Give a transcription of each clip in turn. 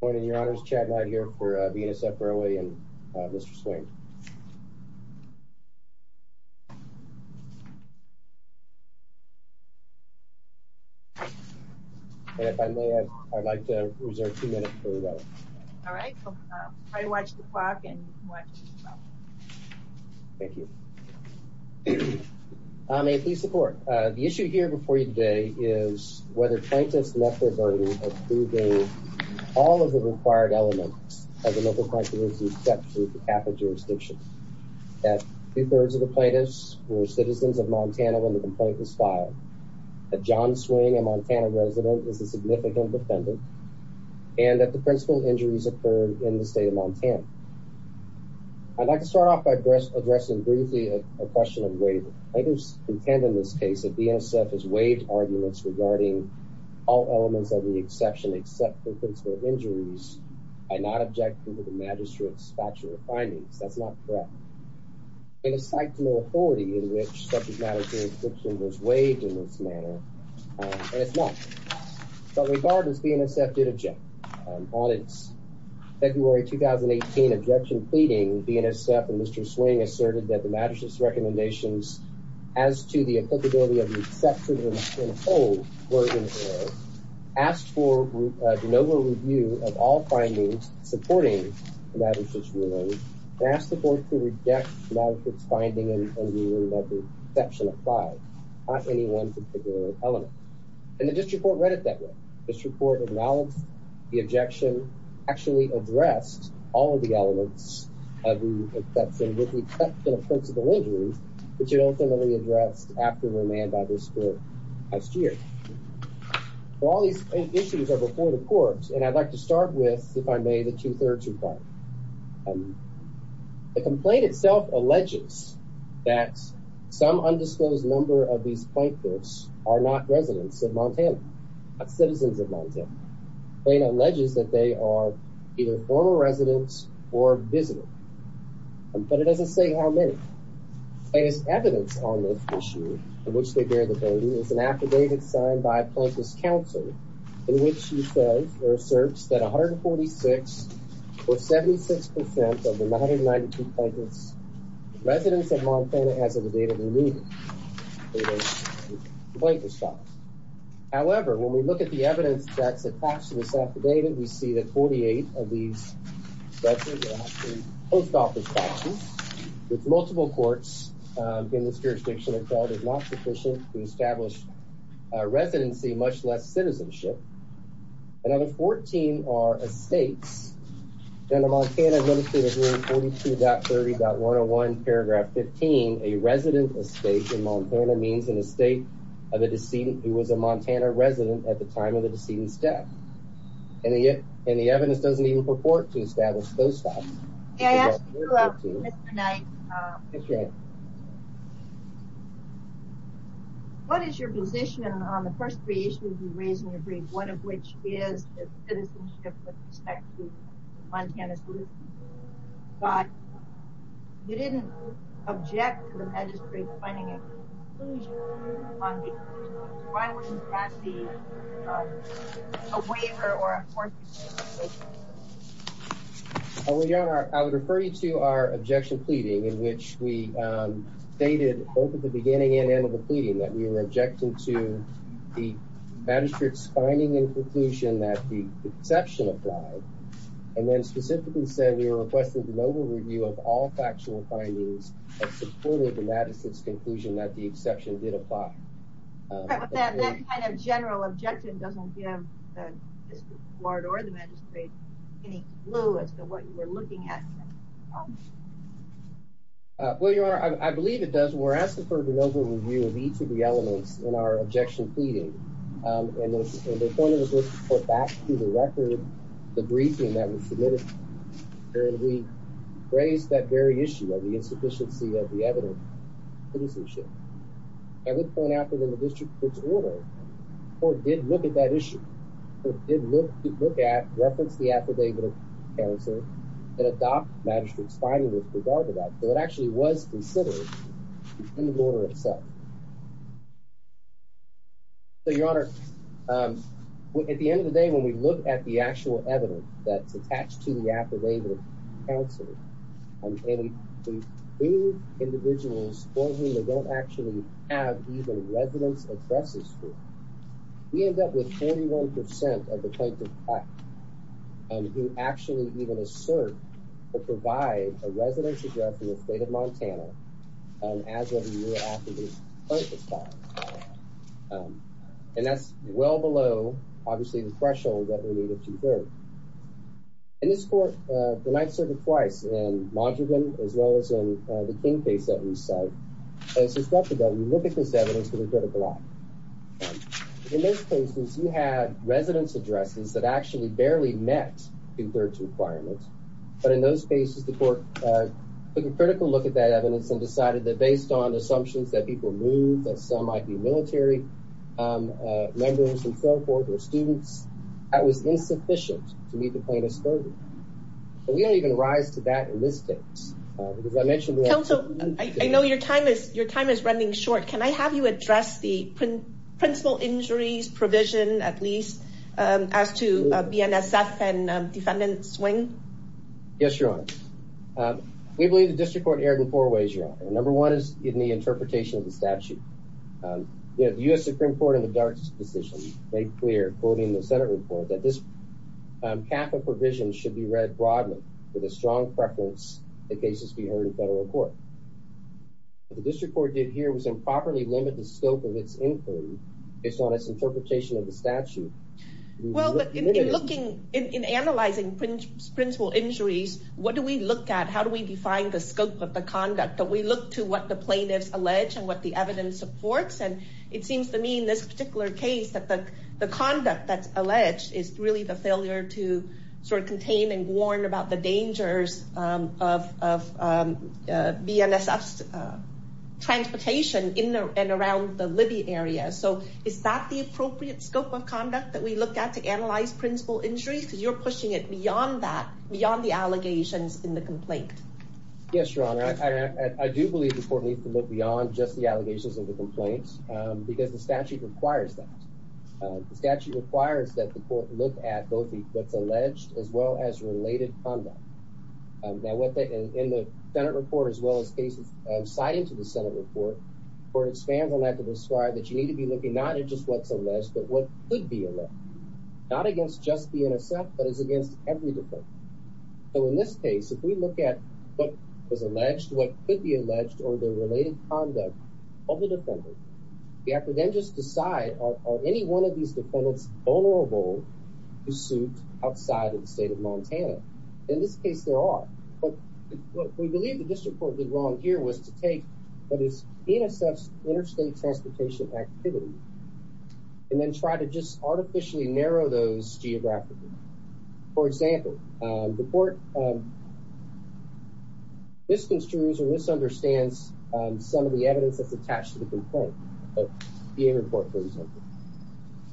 Good morning, your honors. Chad Knight here for BNSF Railway and Mr. Swain. And if I may, I'd like to reserve two minutes for that. All right. Try to watch the clock and watch yourself. Thank you. I'm a police report. The issue here before you today is whether plaintiffs met their burden of proving all of the required elements of the local criteria except for the capital jurisdiction. That two-thirds of the plaintiffs were citizens of Montana when the complaint was filed. That John Swing, a Montana resident, is a significant defendant. I'd like to start off by addressing briefly a question of waiving. Plaintiffs contend in this case that BNSF has waived arguments regarding all elements of the exception except for principal injuries by not objecting to the magistrate's factual findings. That's not correct. It is psyched to no authority in which subject matter transcription was waived in this manner, and it's not. But regardless, BNSF did object. On its February 2018 objection pleading, BNSF and Mr. Swing asserted that the magistrate's recommendations as to the applicability of the exception and hold were in error, asked for a de novo review of all findings supporting the magistrate's ruling, and asked the court to reject the magistrate's finding and rule that the exception applied, not any one particular element. And the district court read it that way. The district court acknowledged the exception, but ultimately addressed all of the elements of the exception with the exception of principal injuries, which it ultimately addressed after remand by the district court last year. So all these issues are before the court, and I'd like to start with, if I may, the two-thirds requirement. The complaint itself alleges that some undisclosed number of these plaintiffs are not residents of Montana, not citizens of Montana. Plaintiff alleges that they are either former residents or visitors, but it doesn't say how many. Evidence on this issue, of which they bear the burden, is an affidavit signed by a Plaintiff's counsel in which he says, or asserts, that 146, or 76 percent of the 192 plaintiffs' residents of Montana as of the date of the meeting were plaintiffs' children. However, when we look at the evidence that's attached to this affidavit, we see that 48 of these residents are in post-office classes with multiple courts in this jurisdiction have called it not sufficient to establish a residency, much less citizenship. Another 14 are estates. Under Montana Administrative Rule 42.30.101, paragraph 15, a resident estate in Montana means an estate of a decedent who was a Montana resident at the time of the decedent's death. And the evidence doesn't even purport to establish post-office. May I ask you, Mr. Knight, what is your position on the first three issues you raised in your brief, one of which is citizenship with respect to Montana citizens? You didn't object to the magistrate finding and conclusion on these issues. Why wouldn't that be a waiver or a forfeiture? Well, Your Honor, I would refer you to our objection pleading, in which we stated, both at the beginning and end of the pleading, that we were objecting to the magistrate's finding and conclusion that the exception applied, and then specifically said we were requesting an over-review of all factual findings that supported the magistrate's conclusion that the exception did apply. But that kind of general objection doesn't give the District Court or the magistrate any clue as to what you were looking at. Well, Your Honor, I believe it does. We're asking for an over-review of each of the elements in our objection pleading. And the point of this was to put back to the record the briefing that was submitted. And we raised that very issue of the insufficiency of the evident citizenship. I would point out that in the District Court's order the Court did look at that issue. The Court did look at reference the affidavit of counsel and adopt magistrate's finding with regard to that. So it actually was considered in the order itself. So, Your Honor, at the end of the day, when we look at the actual evidence that's presented, and we bring individuals for whom they don't actually have even residence addresses for, we end up with 41% of the plaintiff's client who actually even assert or provide a residence address in the state of Montana as of the year after the plaintiff's file was filed. And that's well below, obviously, the threshold that we need to observe. In this Court, the Ninth Circuit twice, in Montreal as well as in the King case that we cite, it's suspected that we look at this evidence with a critical eye. In those cases you had residence addresses that actually barely met the third requirement. But in those cases the Court took a critical look at that evidence and decided that based on assumptions that people moved, that some might be military members and so forth or students, that was insufficient to meet the plaintiff's third requirement. We don't even rise to that in this case. I know your time is running short. Can I have you address the principal injuries provision, at least, as to BNSF and defendant swing? Yes, Your Honor. We believe the District Court erred in four ways, Your Honor. Number one is in the interpretation of the statute. The U.S. Supreme Court in the Darts decision made clear, quoting the Senate report, that this CAFA provision should be read broadly with a strong preference in cases we heard in federal court. What the District Court did here was improperly limit the scope of its inquiry based on its interpretation of the statute. Well, in analyzing principal injuries, what do we look at? How do we define the scope of the conduct? Do we look to what the plaintiffs allege and what the evidence supports? It seems to me in this particular case that the conduct that's alleged is really the failure to contain and warn about the dangers of BNSF's transportation in and around the Libby area. Is that the appropriate scope of conduct that we look at to analyze principal injuries? Because you're pushing it beyond that, beyond the allegations in the complaint. Yes, Your Honor. I do believe the court needs to look beyond just the allegations and the complaints because the statute requires that. The statute requires that the court look at both what's alleged as well as related conduct. In the Senate report as well as cases cited to the Senate report, the court expands on that to describe that you need to be looking not at just what's alleged, but what could be alleged. Not against just the NSF, but as against every department. So in this case, if we look at what was alleged, what could be alleged, or the related conduct of the defendant, we have to then just decide, are any one of these defendants vulnerable to suit outside of the state of Montana? In this case, there are. What we believe the district court did wrong here was to take what is NSF's interstate transportation activity and then try to just artificially narrow those geographically. For example, the court misconstrues or misunderstands some of the evidence that's attached to the complaint.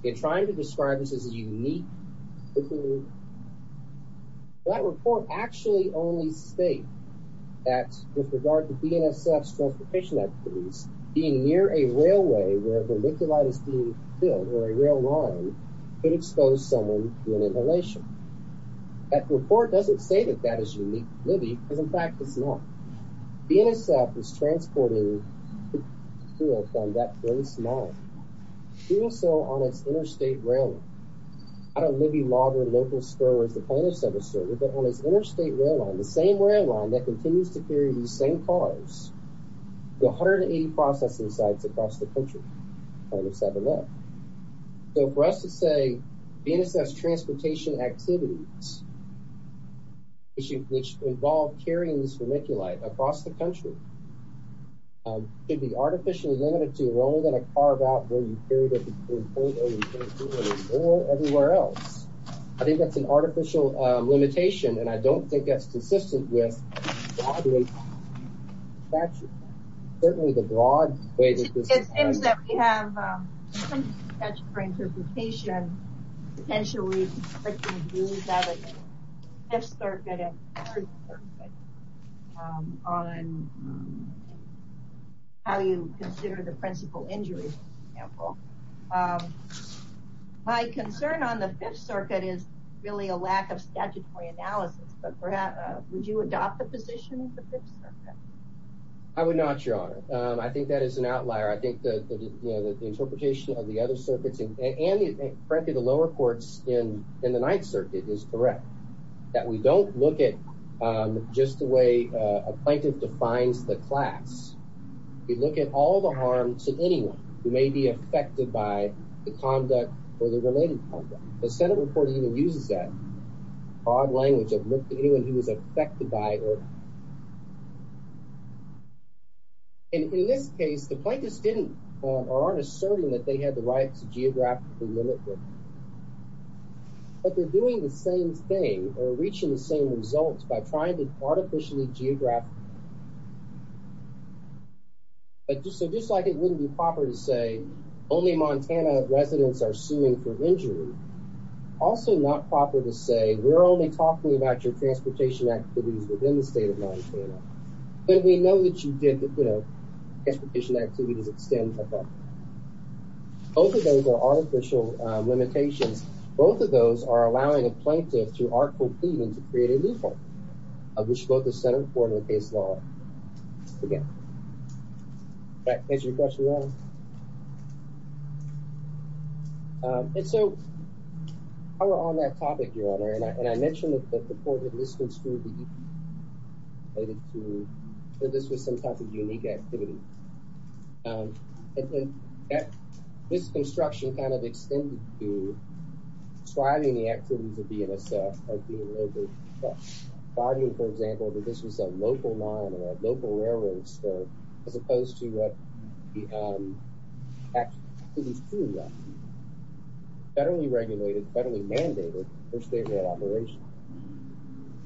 In trying to describe this as unique, that report actually only states that with regard to BNSF's transportation activities, being near a railway where verniculitis is being killed, or a rail line, could expose someone to an inhalation. That report doesn't say that that is unique to Libby, because in fact it's not. BNSF is transporting fuel from that place now. Fuel still on its interstate rail line. I don't Libby, Logger, Noble, Stowers, the plaintiffs have asserted, but on its interstate rail line, the same rail line that continues to carry these same cars to 180 processing sites across the country, plaintiffs have alleged. So for us to say that BNSF's transportation activities which involve carrying this verniculite across the country could be artificially limited to rolling in a car about where you carried it before, or you can't do it anymore, or everywhere else. I think that's an artificial limitation, and I don't think that's consistent with the broad way that it's attached. Certainly the broad way that it's attached. It seems that we have a statutory interpretation potentially restricting views of the Fifth Circuit and Third Circuit on how you consider the principal injury for example. My concern on the Fifth Circuit is really a lack of statutory analysis, but perhaps would you adopt the position of the Fifth Circuit? I would not, Your Honor. I think the interpretation of the other circuits and frankly the lower courts in the Ninth Circuit is correct. That we don't look at just the way a plaintiff defines the class. We look at all the harm to anyone who may be affected by the conduct or the related conduct. The Senate report even uses that odd language of look at anyone who is affected by or In this case the plaintiffs didn't or aren't asserting that they had the right to geographically limit. But they're doing the same thing or reaching the same results by trying to artificially geographically So just like it wouldn't be proper to say only Montana residents are suing for injury also not proper to say we're only talking about your transportation activities within the state of Montana. But we know that you did the transportation activities extend Both of those are artificial limitations. Both of those are allowing a plaintiff to artful even to create a new court of which both the Senate report and the case law are. Does that answer your question, Your Honor? And so while we're on that topic, Your Honor And I mentioned that the court had misconstrued that this was some type of unique activity This construction kind of extended to describing the activities of the NSF arguing, for example, that this was a local line or a local railroad as opposed to what the activities truly are.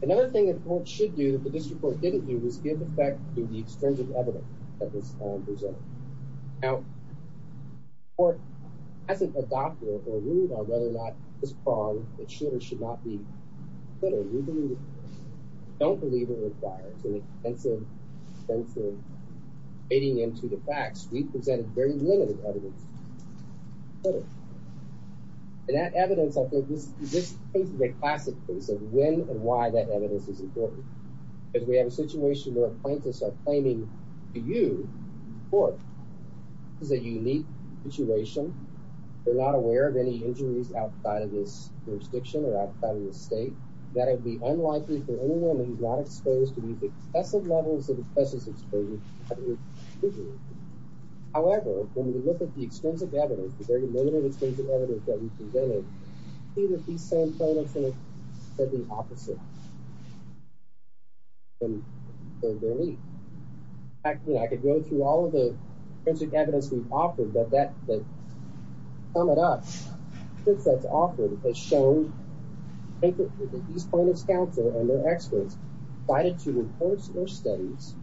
Another thing the court should do that the district court didn't do was give effect to the extrinsic evidence that was presented. Now the court hasn't adopted or ruled on whether or not this prong should or should not be included We don't believe it requires any extensive fading into the facts. We've presented very limited evidence And that evidence, I think, this is a classic case of when and why that evidence is important Because we have a situation where plaintiffs are claiming to you the court. This is a unique situation They're not aware of any injuries outside of this jurisdiction or outside of this state that it would be unlikely for anyone who's not exposed to these excessive levels of excessive exposure to have an excuse However, when we look at the extrinsic evidence, the very limited extrinsic evidence that we've presented, we see that these same plaintiffs have said the opposite. In fact, I could go through all of the extrinsic evidence we've offered, but to sum it up the evidence that's offered has shown that these plaintiffs counsel and their experts decided to report their studies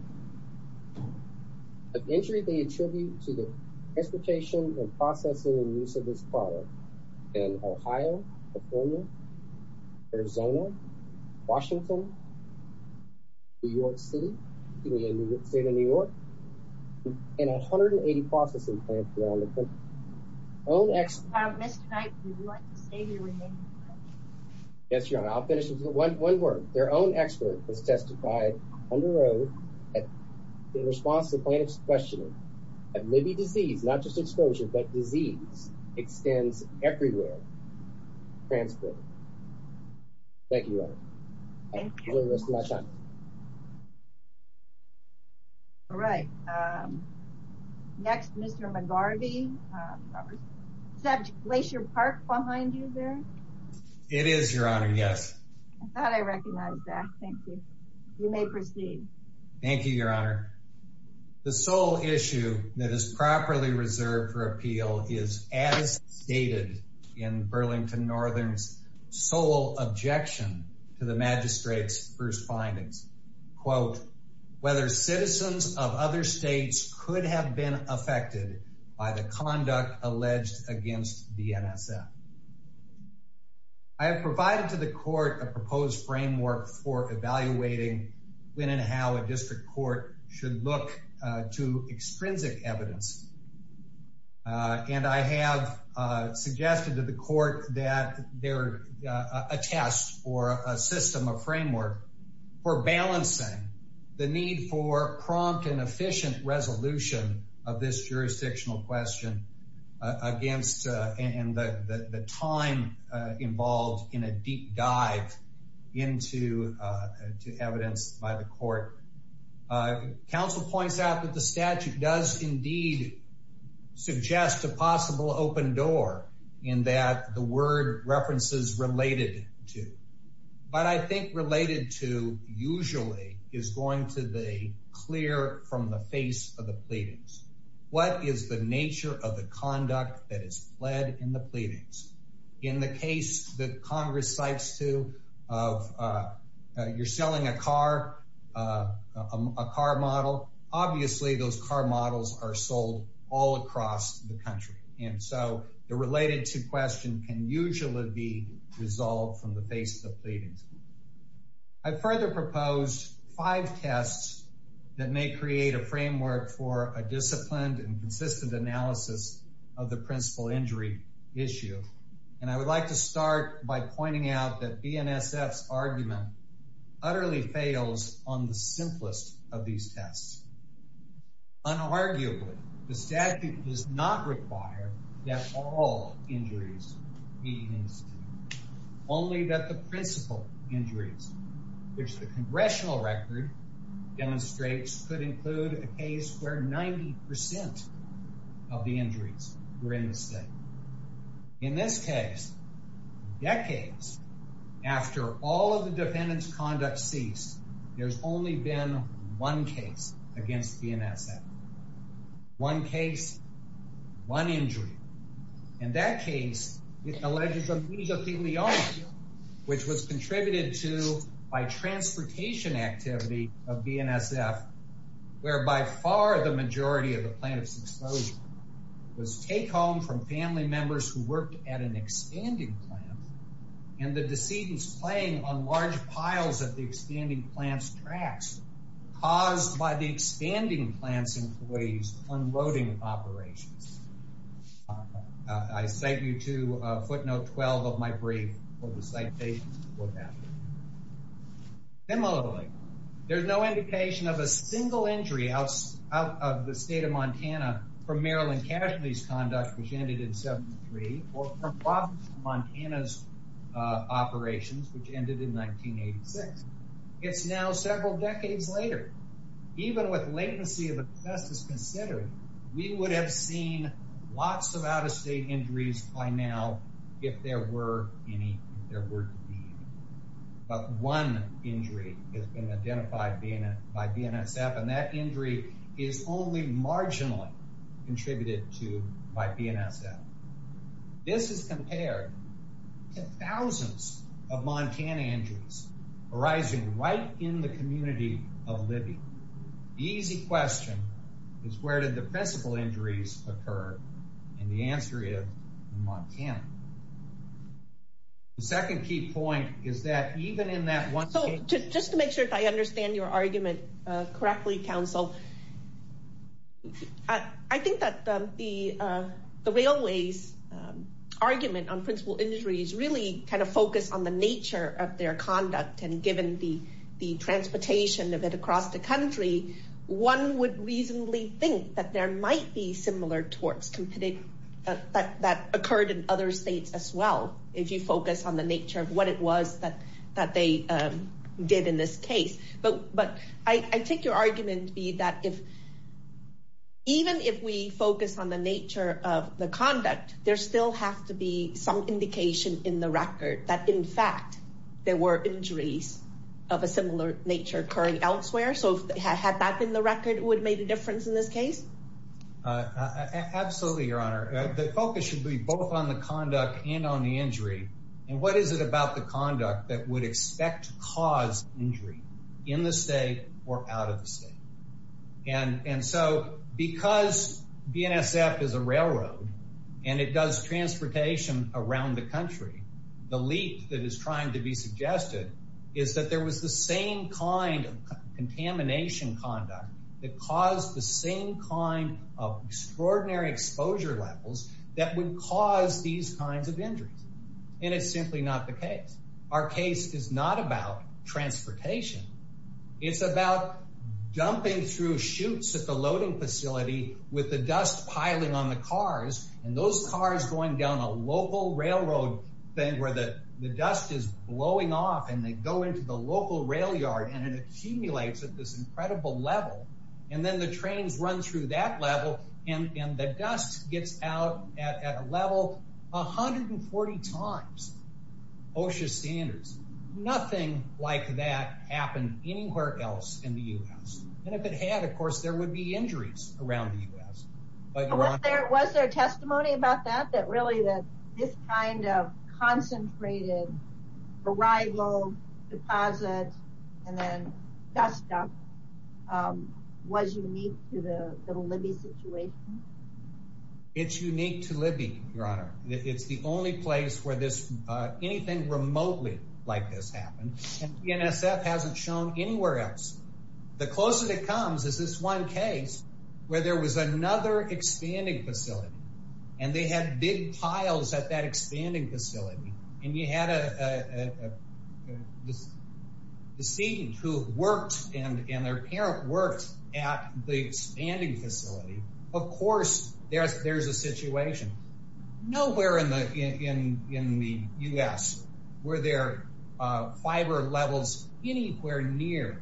The injury they attribute to the transportation and processing and use of this product in Ohio, California, Arizona, Washington New York City and 180 processing plants around the country Mr. Knight, would you like to say your remaining words? Yes, Your Honor. I'll finish with one word. Their own expert has testified on the road in response to the plaintiff's questioning that maybe disease, not just exposure, but disease extends everywhere. Thank you, Your Honor. All right. Next, Mr. McGarvey. Is that Glacier Park behind you there? It is, Your Honor. Yes. I thought I recognized that. Thank you. You may proceed. Thank you, Your Honor. The sole issue that is properly reserved for appeal is as stated in Burlington Northern's sole objection to the magistrate's first findings. Quote, whether citizens of other states could have been affected by the conduct alleged against the NSF. I have provided to the court a proposed framework for evaluating when and how a district court should look to extrinsic evidence. And I have suggested to the court that there are a test or a system of framework for balancing the need for prompt and efficient resolution of this jurisdictional question against and the time involved in a deep dive into evidence by the court. Counsel points out that the statute does indeed suggest a possible open door in that the word references related to. But I think related to usually is going to be clear from the face of the pleadings. What is the nature of the conduct that is led in the pleadings? In the case that Congress cites to of you're selling a car, a car model, obviously those car models are sold all across the country. And so the related to question can usually be resolved from the face of the pleadings. I further proposed five tests that may create a framework for a disciplined and consistent analysis of the principal injury issue. And I would like to start by pointing out that BNSF's argument utterly fails on the simplest of these tests. Unarguably, the statute does not require that all injuries be used, only that the principal injuries, which the congressional record demonstrates, could include a case where 90% of the injuries were in the state. In this case, decades after all of the defendant's conduct ceased, there's only been one case against BNSF. One case, one injury. And that case, which was contributed to by transportation activity of BNSF, where by far the majority of the plaintiff's exposure was take home from family members who worked at an expanding plant and the decedents playing on large piles of the expanding plant's tracks caused by the expanding plant's employees unloading operations. I cite you to footnote 12 of my brief for the citation for that. Similarly, there's no indication of a single injury out of the state of Montana for Maryland casualties conduct, which ended in 73, or from Montana's operations, which ended in 1986. It's now several decades later. Even with latency of the test is considered, we would have seen lots of out-of-state injuries by now if there were any, if there were to be any. But one injury has been identified by BNSF, and that injury is only marginally contributed to by BNSF. This is compared to thousands of Montana injuries arising right in the community of Libby. The easy question is where did the principal injuries occur? And the answer is in Montana. The second key point is that even in that one... So just to make sure if I understand your argument correctly, Council, I think that the railways argument on principal injuries really kind of focused on the nature of their conduct and given the transportation of it across the country, one would reasonably think that there might be similar torts that occurred in other states as well if you focus on the nature of what it was that they did in this case. But I take your argument to be that even if we focus on the nature of the conduct, there still have to be some indication in the record that in fact there were injuries of a similar nature occurring elsewhere. So had that been the record, it would have made a difference in this case? Absolutely, Your Honor. The focus should be both on the conduct and on the injury. And what is it about the conduct that would expect to cause injury in the state or out of the state? And so because BNSF is a railroad and it does transportation around the country, the leap that is trying to be suggested is that there was the same kind of contamination conduct that caused the same kind of extraordinary exposure levels that would cause these kinds of injuries. And it's simply not the case. Our case is not about transportation. It's about jumping through chutes at the loading facility with the dust piling on the cars and those cars going down a local railroad thing where the dust is blowing off and they go into the local rail yard and it gets to this incredible level and then the trains run through that level and the dust gets out at a level 140 times OSHA standards. Nothing like that happened anywhere else in the U.S. And if it had, of course, there would be injuries around the U.S. Was there testimony about that, that really this kind of concentrated arrival, deposit and then dust dump was unique to the Libby situation? It's unique to Libby, Your Honor. It's the only place where anything remotely like this happened and BNSF hasn't shown anywhere else. The closest it comes is this one case where there was another expanding facility and they had big piles at that expanding facility and you had a decedent who worked and their parent worked at the expanding facility. Of course, there's a situation. Nowhere in the U.S. were there fiber levels anywhere near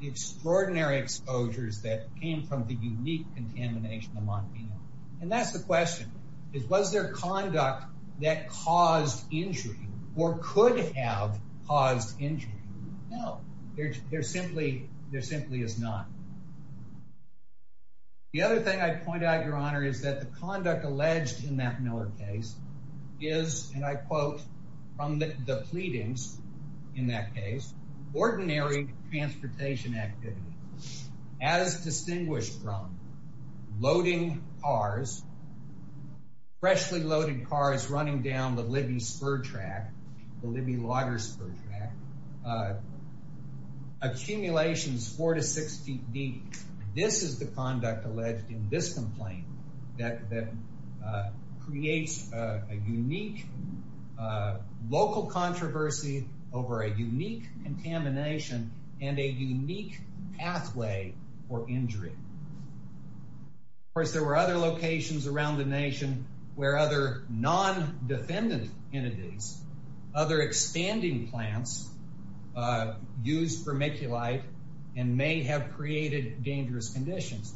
the extraordinary exposures that came from the unique contamination of Montenegro. And that's the question. Was there conduct that caused injury or could have caused injury? No, there simply is not. The other thing I'd point out, Your Honor, is that the conduct alleged in that Miller case is, and I quote from the pleadings in that case, ordinary transportation activity as distinguished from loading cars, freshly loaded cars running down the Libby spur track, the Libby logger spur track, accumulations four to six feet deep. This is the conduct alleged in this complaint that creates a unique local controversy over a unique contamination and a unique pathway for injury. Of course, there were other locations around the nation where other non-defendant entities, other expanding plants, used vermiculite and may have created dangerous conditions.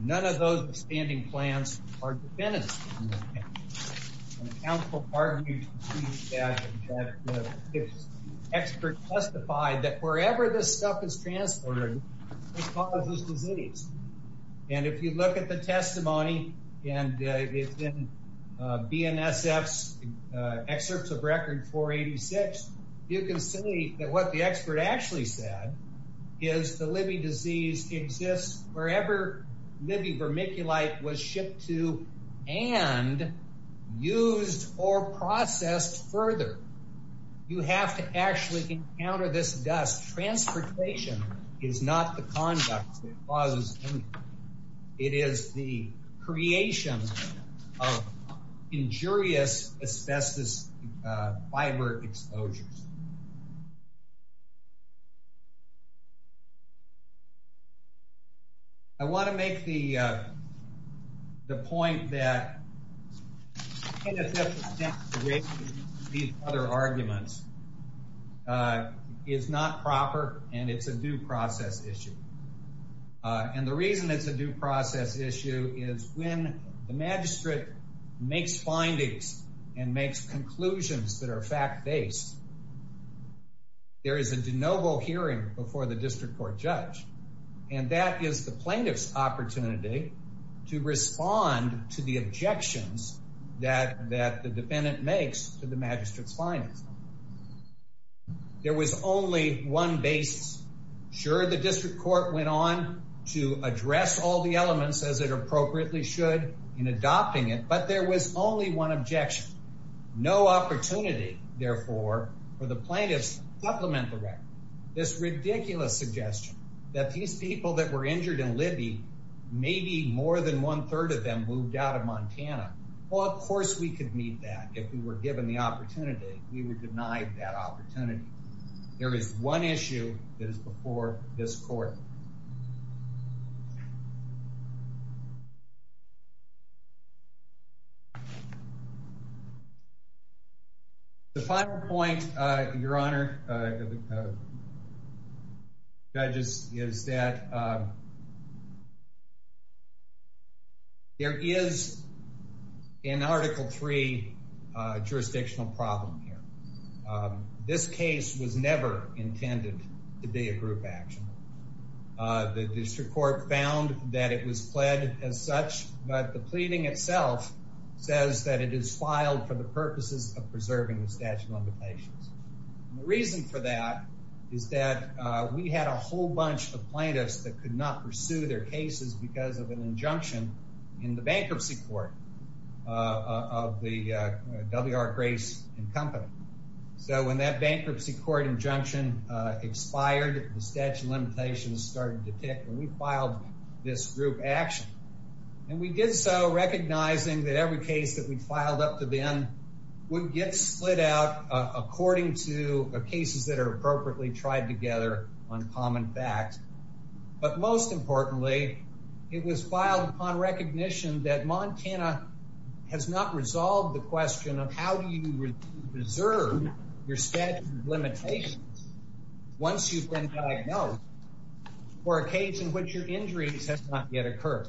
None of those expanding plants are defendants. And the counsel argued that the expert testified that wherever this stuff is transported, it causes disease. And if you look at the testimony, and it's in BNSF's excerpts of Record 486, you can see that what the expert actually said is the Libby disease exists wherever Libby vermiculite was shipped to and used or processed further. You have to actually encounter this dust. Transportation is not the conduct that is the creation of injurious asbestos fiber exposures. I want to make the point that these other arguments is not proper and it's a due process issue. And the reason it's a due process issue is when the magistrate makes findings and makes conclusions that are fact-based, there is a de novo hearing before the district court judge. And that is the plaintiff's opportunity to respond to the objections that the defendant makes to the magistrate's findings. There was only one basis. Sure, the district court went on to address all the elements as it appropriately should in adopting it, but there was only one objection. No opportunity, therefore, for the plaintiffs to supplement the record. This ridiculous suggestion that these people that were injured in Libby, maybe more than one-third of them moved out of Montana. Well, of course we could meet that if we were given the opportunity. We would deny that opportunity. There is one issue that is before this court. The final point, Your Honor, judges, is that there is an Article III jurisdictional problem here. This case was never intended to be a group action. The district court found that it was pled as such, but the pleading itself says that it is filed for the purposes of preserving the statute of limitations. The reason for that is that we had a whole bunch of plaintiffs that could not pursue their cases because of an injunction in the bankruptcy court of the W.R. Grace & Company. So when that bankruptcy court injunction expired, the statute of limitations started to tick and we filed this group action. And we did so recognizing that every case that we filed up to then would get split out according to cases that are appropriately tried together on common facts. But most importantly, it was filed upon recognition that Montana has not resolved the question of how do you preserve your statute of limitations once you've been diagnosed for a case in which your injuries have not yet occurred.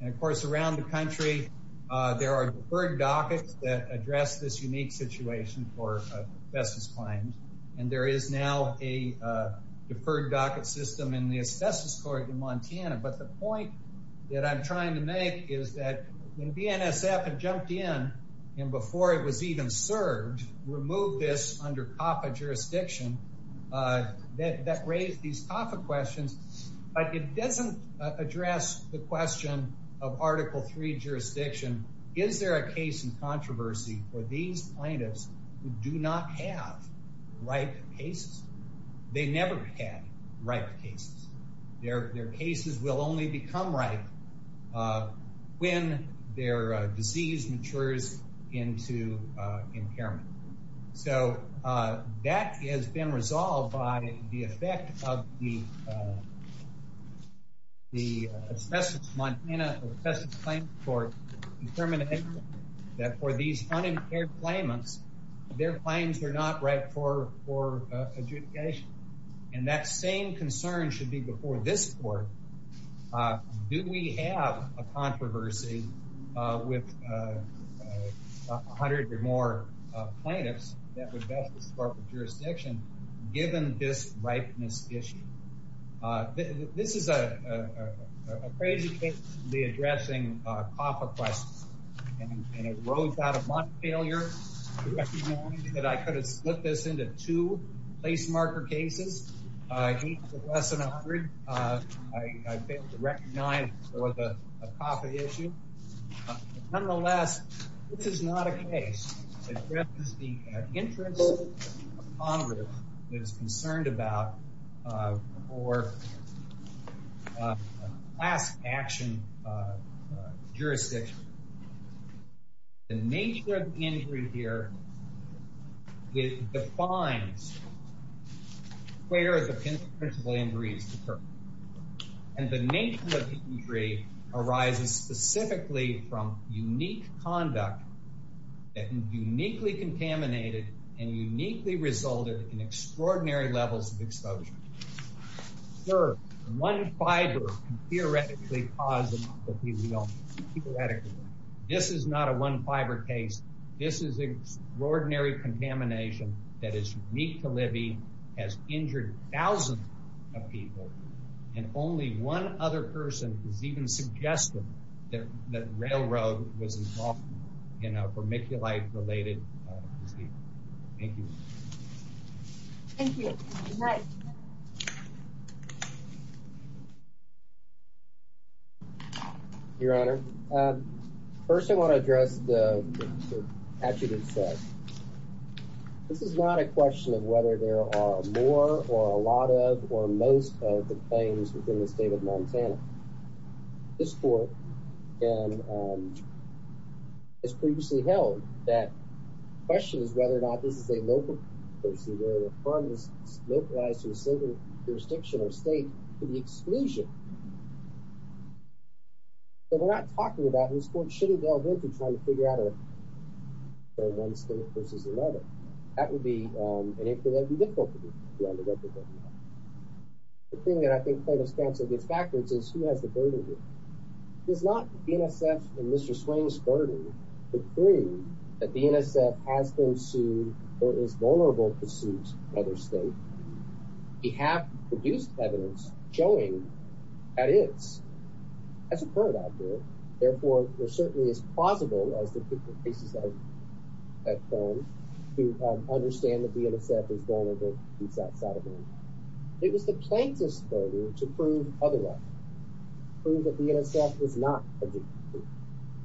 And of course, around the country, there are deferred dockets that address this unique situation for asbestos claims. And there is now a deferred docket system in the asbestos court in Montana. But the point that I'm the NSF had jumped in, and before it was even served, removed this under CAFA jurisdiction that raised these CAFA questions, but it doesn't address the question of Article III jurisdiction. Is there a case in controversy for these plaintiffs who do not have ripe cases? They never had ripe cases. Their cases will only become ripe when their disease matures into impairment. So that has been resolved by the effect of the the Asbestos of Montana or Asbestos Claims Court determining that for these unimpaired claimants, their claims are not ripe for adjudication. And that same concern should be before this court. Do we have a controversy with a hundred or more plaintiffs that would best support the jurisdiction given this ripeness issue? This is a crazy case to be addressing CAFA questions. And it rose out of my failure to recognize that I could have split this into two place marker cases, eight with less than a hundred. I failed to recognize there was a CAFA issue. Nonetheless, this is not a case that addresses the interest of Congress that is concerned about a last action jurisdiction. The nature of the injury here it defines where the principal injuries occur. And the nature of the injury arises specifically from unique conduct that uniquely contaminated and uniquely resulted in extraordinary levels of exposure. Third, one fiber can theoretically cause an orthopedic illness. This is not a one fiber case. This is extraordinary contamination that is unique to Libby, has injured thousands of people, and only one other person has even suggested that Railroad was involved in a vermiculite related disease. Thank you. Thank you. Good night. Your Honor, first I want to address the this is not a question of whether there are more or a lot of or most of the claims within the state of Montana. This court has previously held that the question is whether or not this is a local jurisdiction where the firm is localized to a single jurisdiction or state to the exclusion. So we're not talking about, and this court shouldn't delve into trying to figure out for one state versus another. That would be difficult to do on the record right now. The thing that I think plaintiff's counsel gets backwards is who has the burden here. It is not the NSF and Mr. Swain's burden to prove that the NSF has been sued or is vulnerable to suit another state. We have produced evidence showing that is. That's a part of that bill. Therefore, we're certainly as plausible as the cases that have come to understand that the NSF is vulnerable. It was the plaintiff's burden to prove otherwise. Prove that the NSF was not a victim.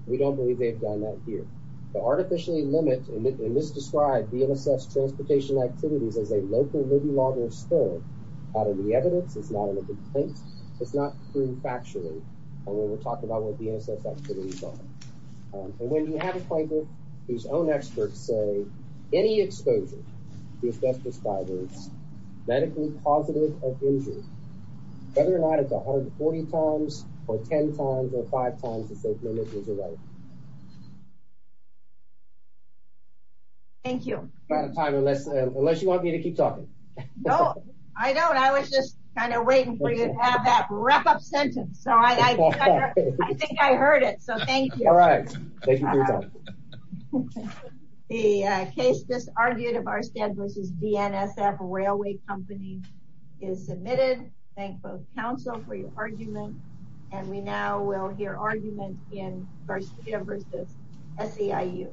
We don't believe they've done that here. To artificially limit and misdescribe the NSF's transportation activities as a local movie logger's burden out of the evidence is not a complaint. It's not true factually when we're talking about what the NSF activities are. When you have a plaintiff whose own experts say any exposure to asbestos fibers medically positive of injury, whether or not it's 140 times or 10 times or 5 times, it's a right. Thank you. We're out of time unless you want me to keep talking. No, I don't. I was just kind of waiting for you to have that wrap-up sentence. I think I heard it, so thank you. Thank you for your time. The case disargued of Arstead v. DNSF Railway Company is submitted. Thank both Council for your argument. And we now will hear argument in Garcia v. SEIU.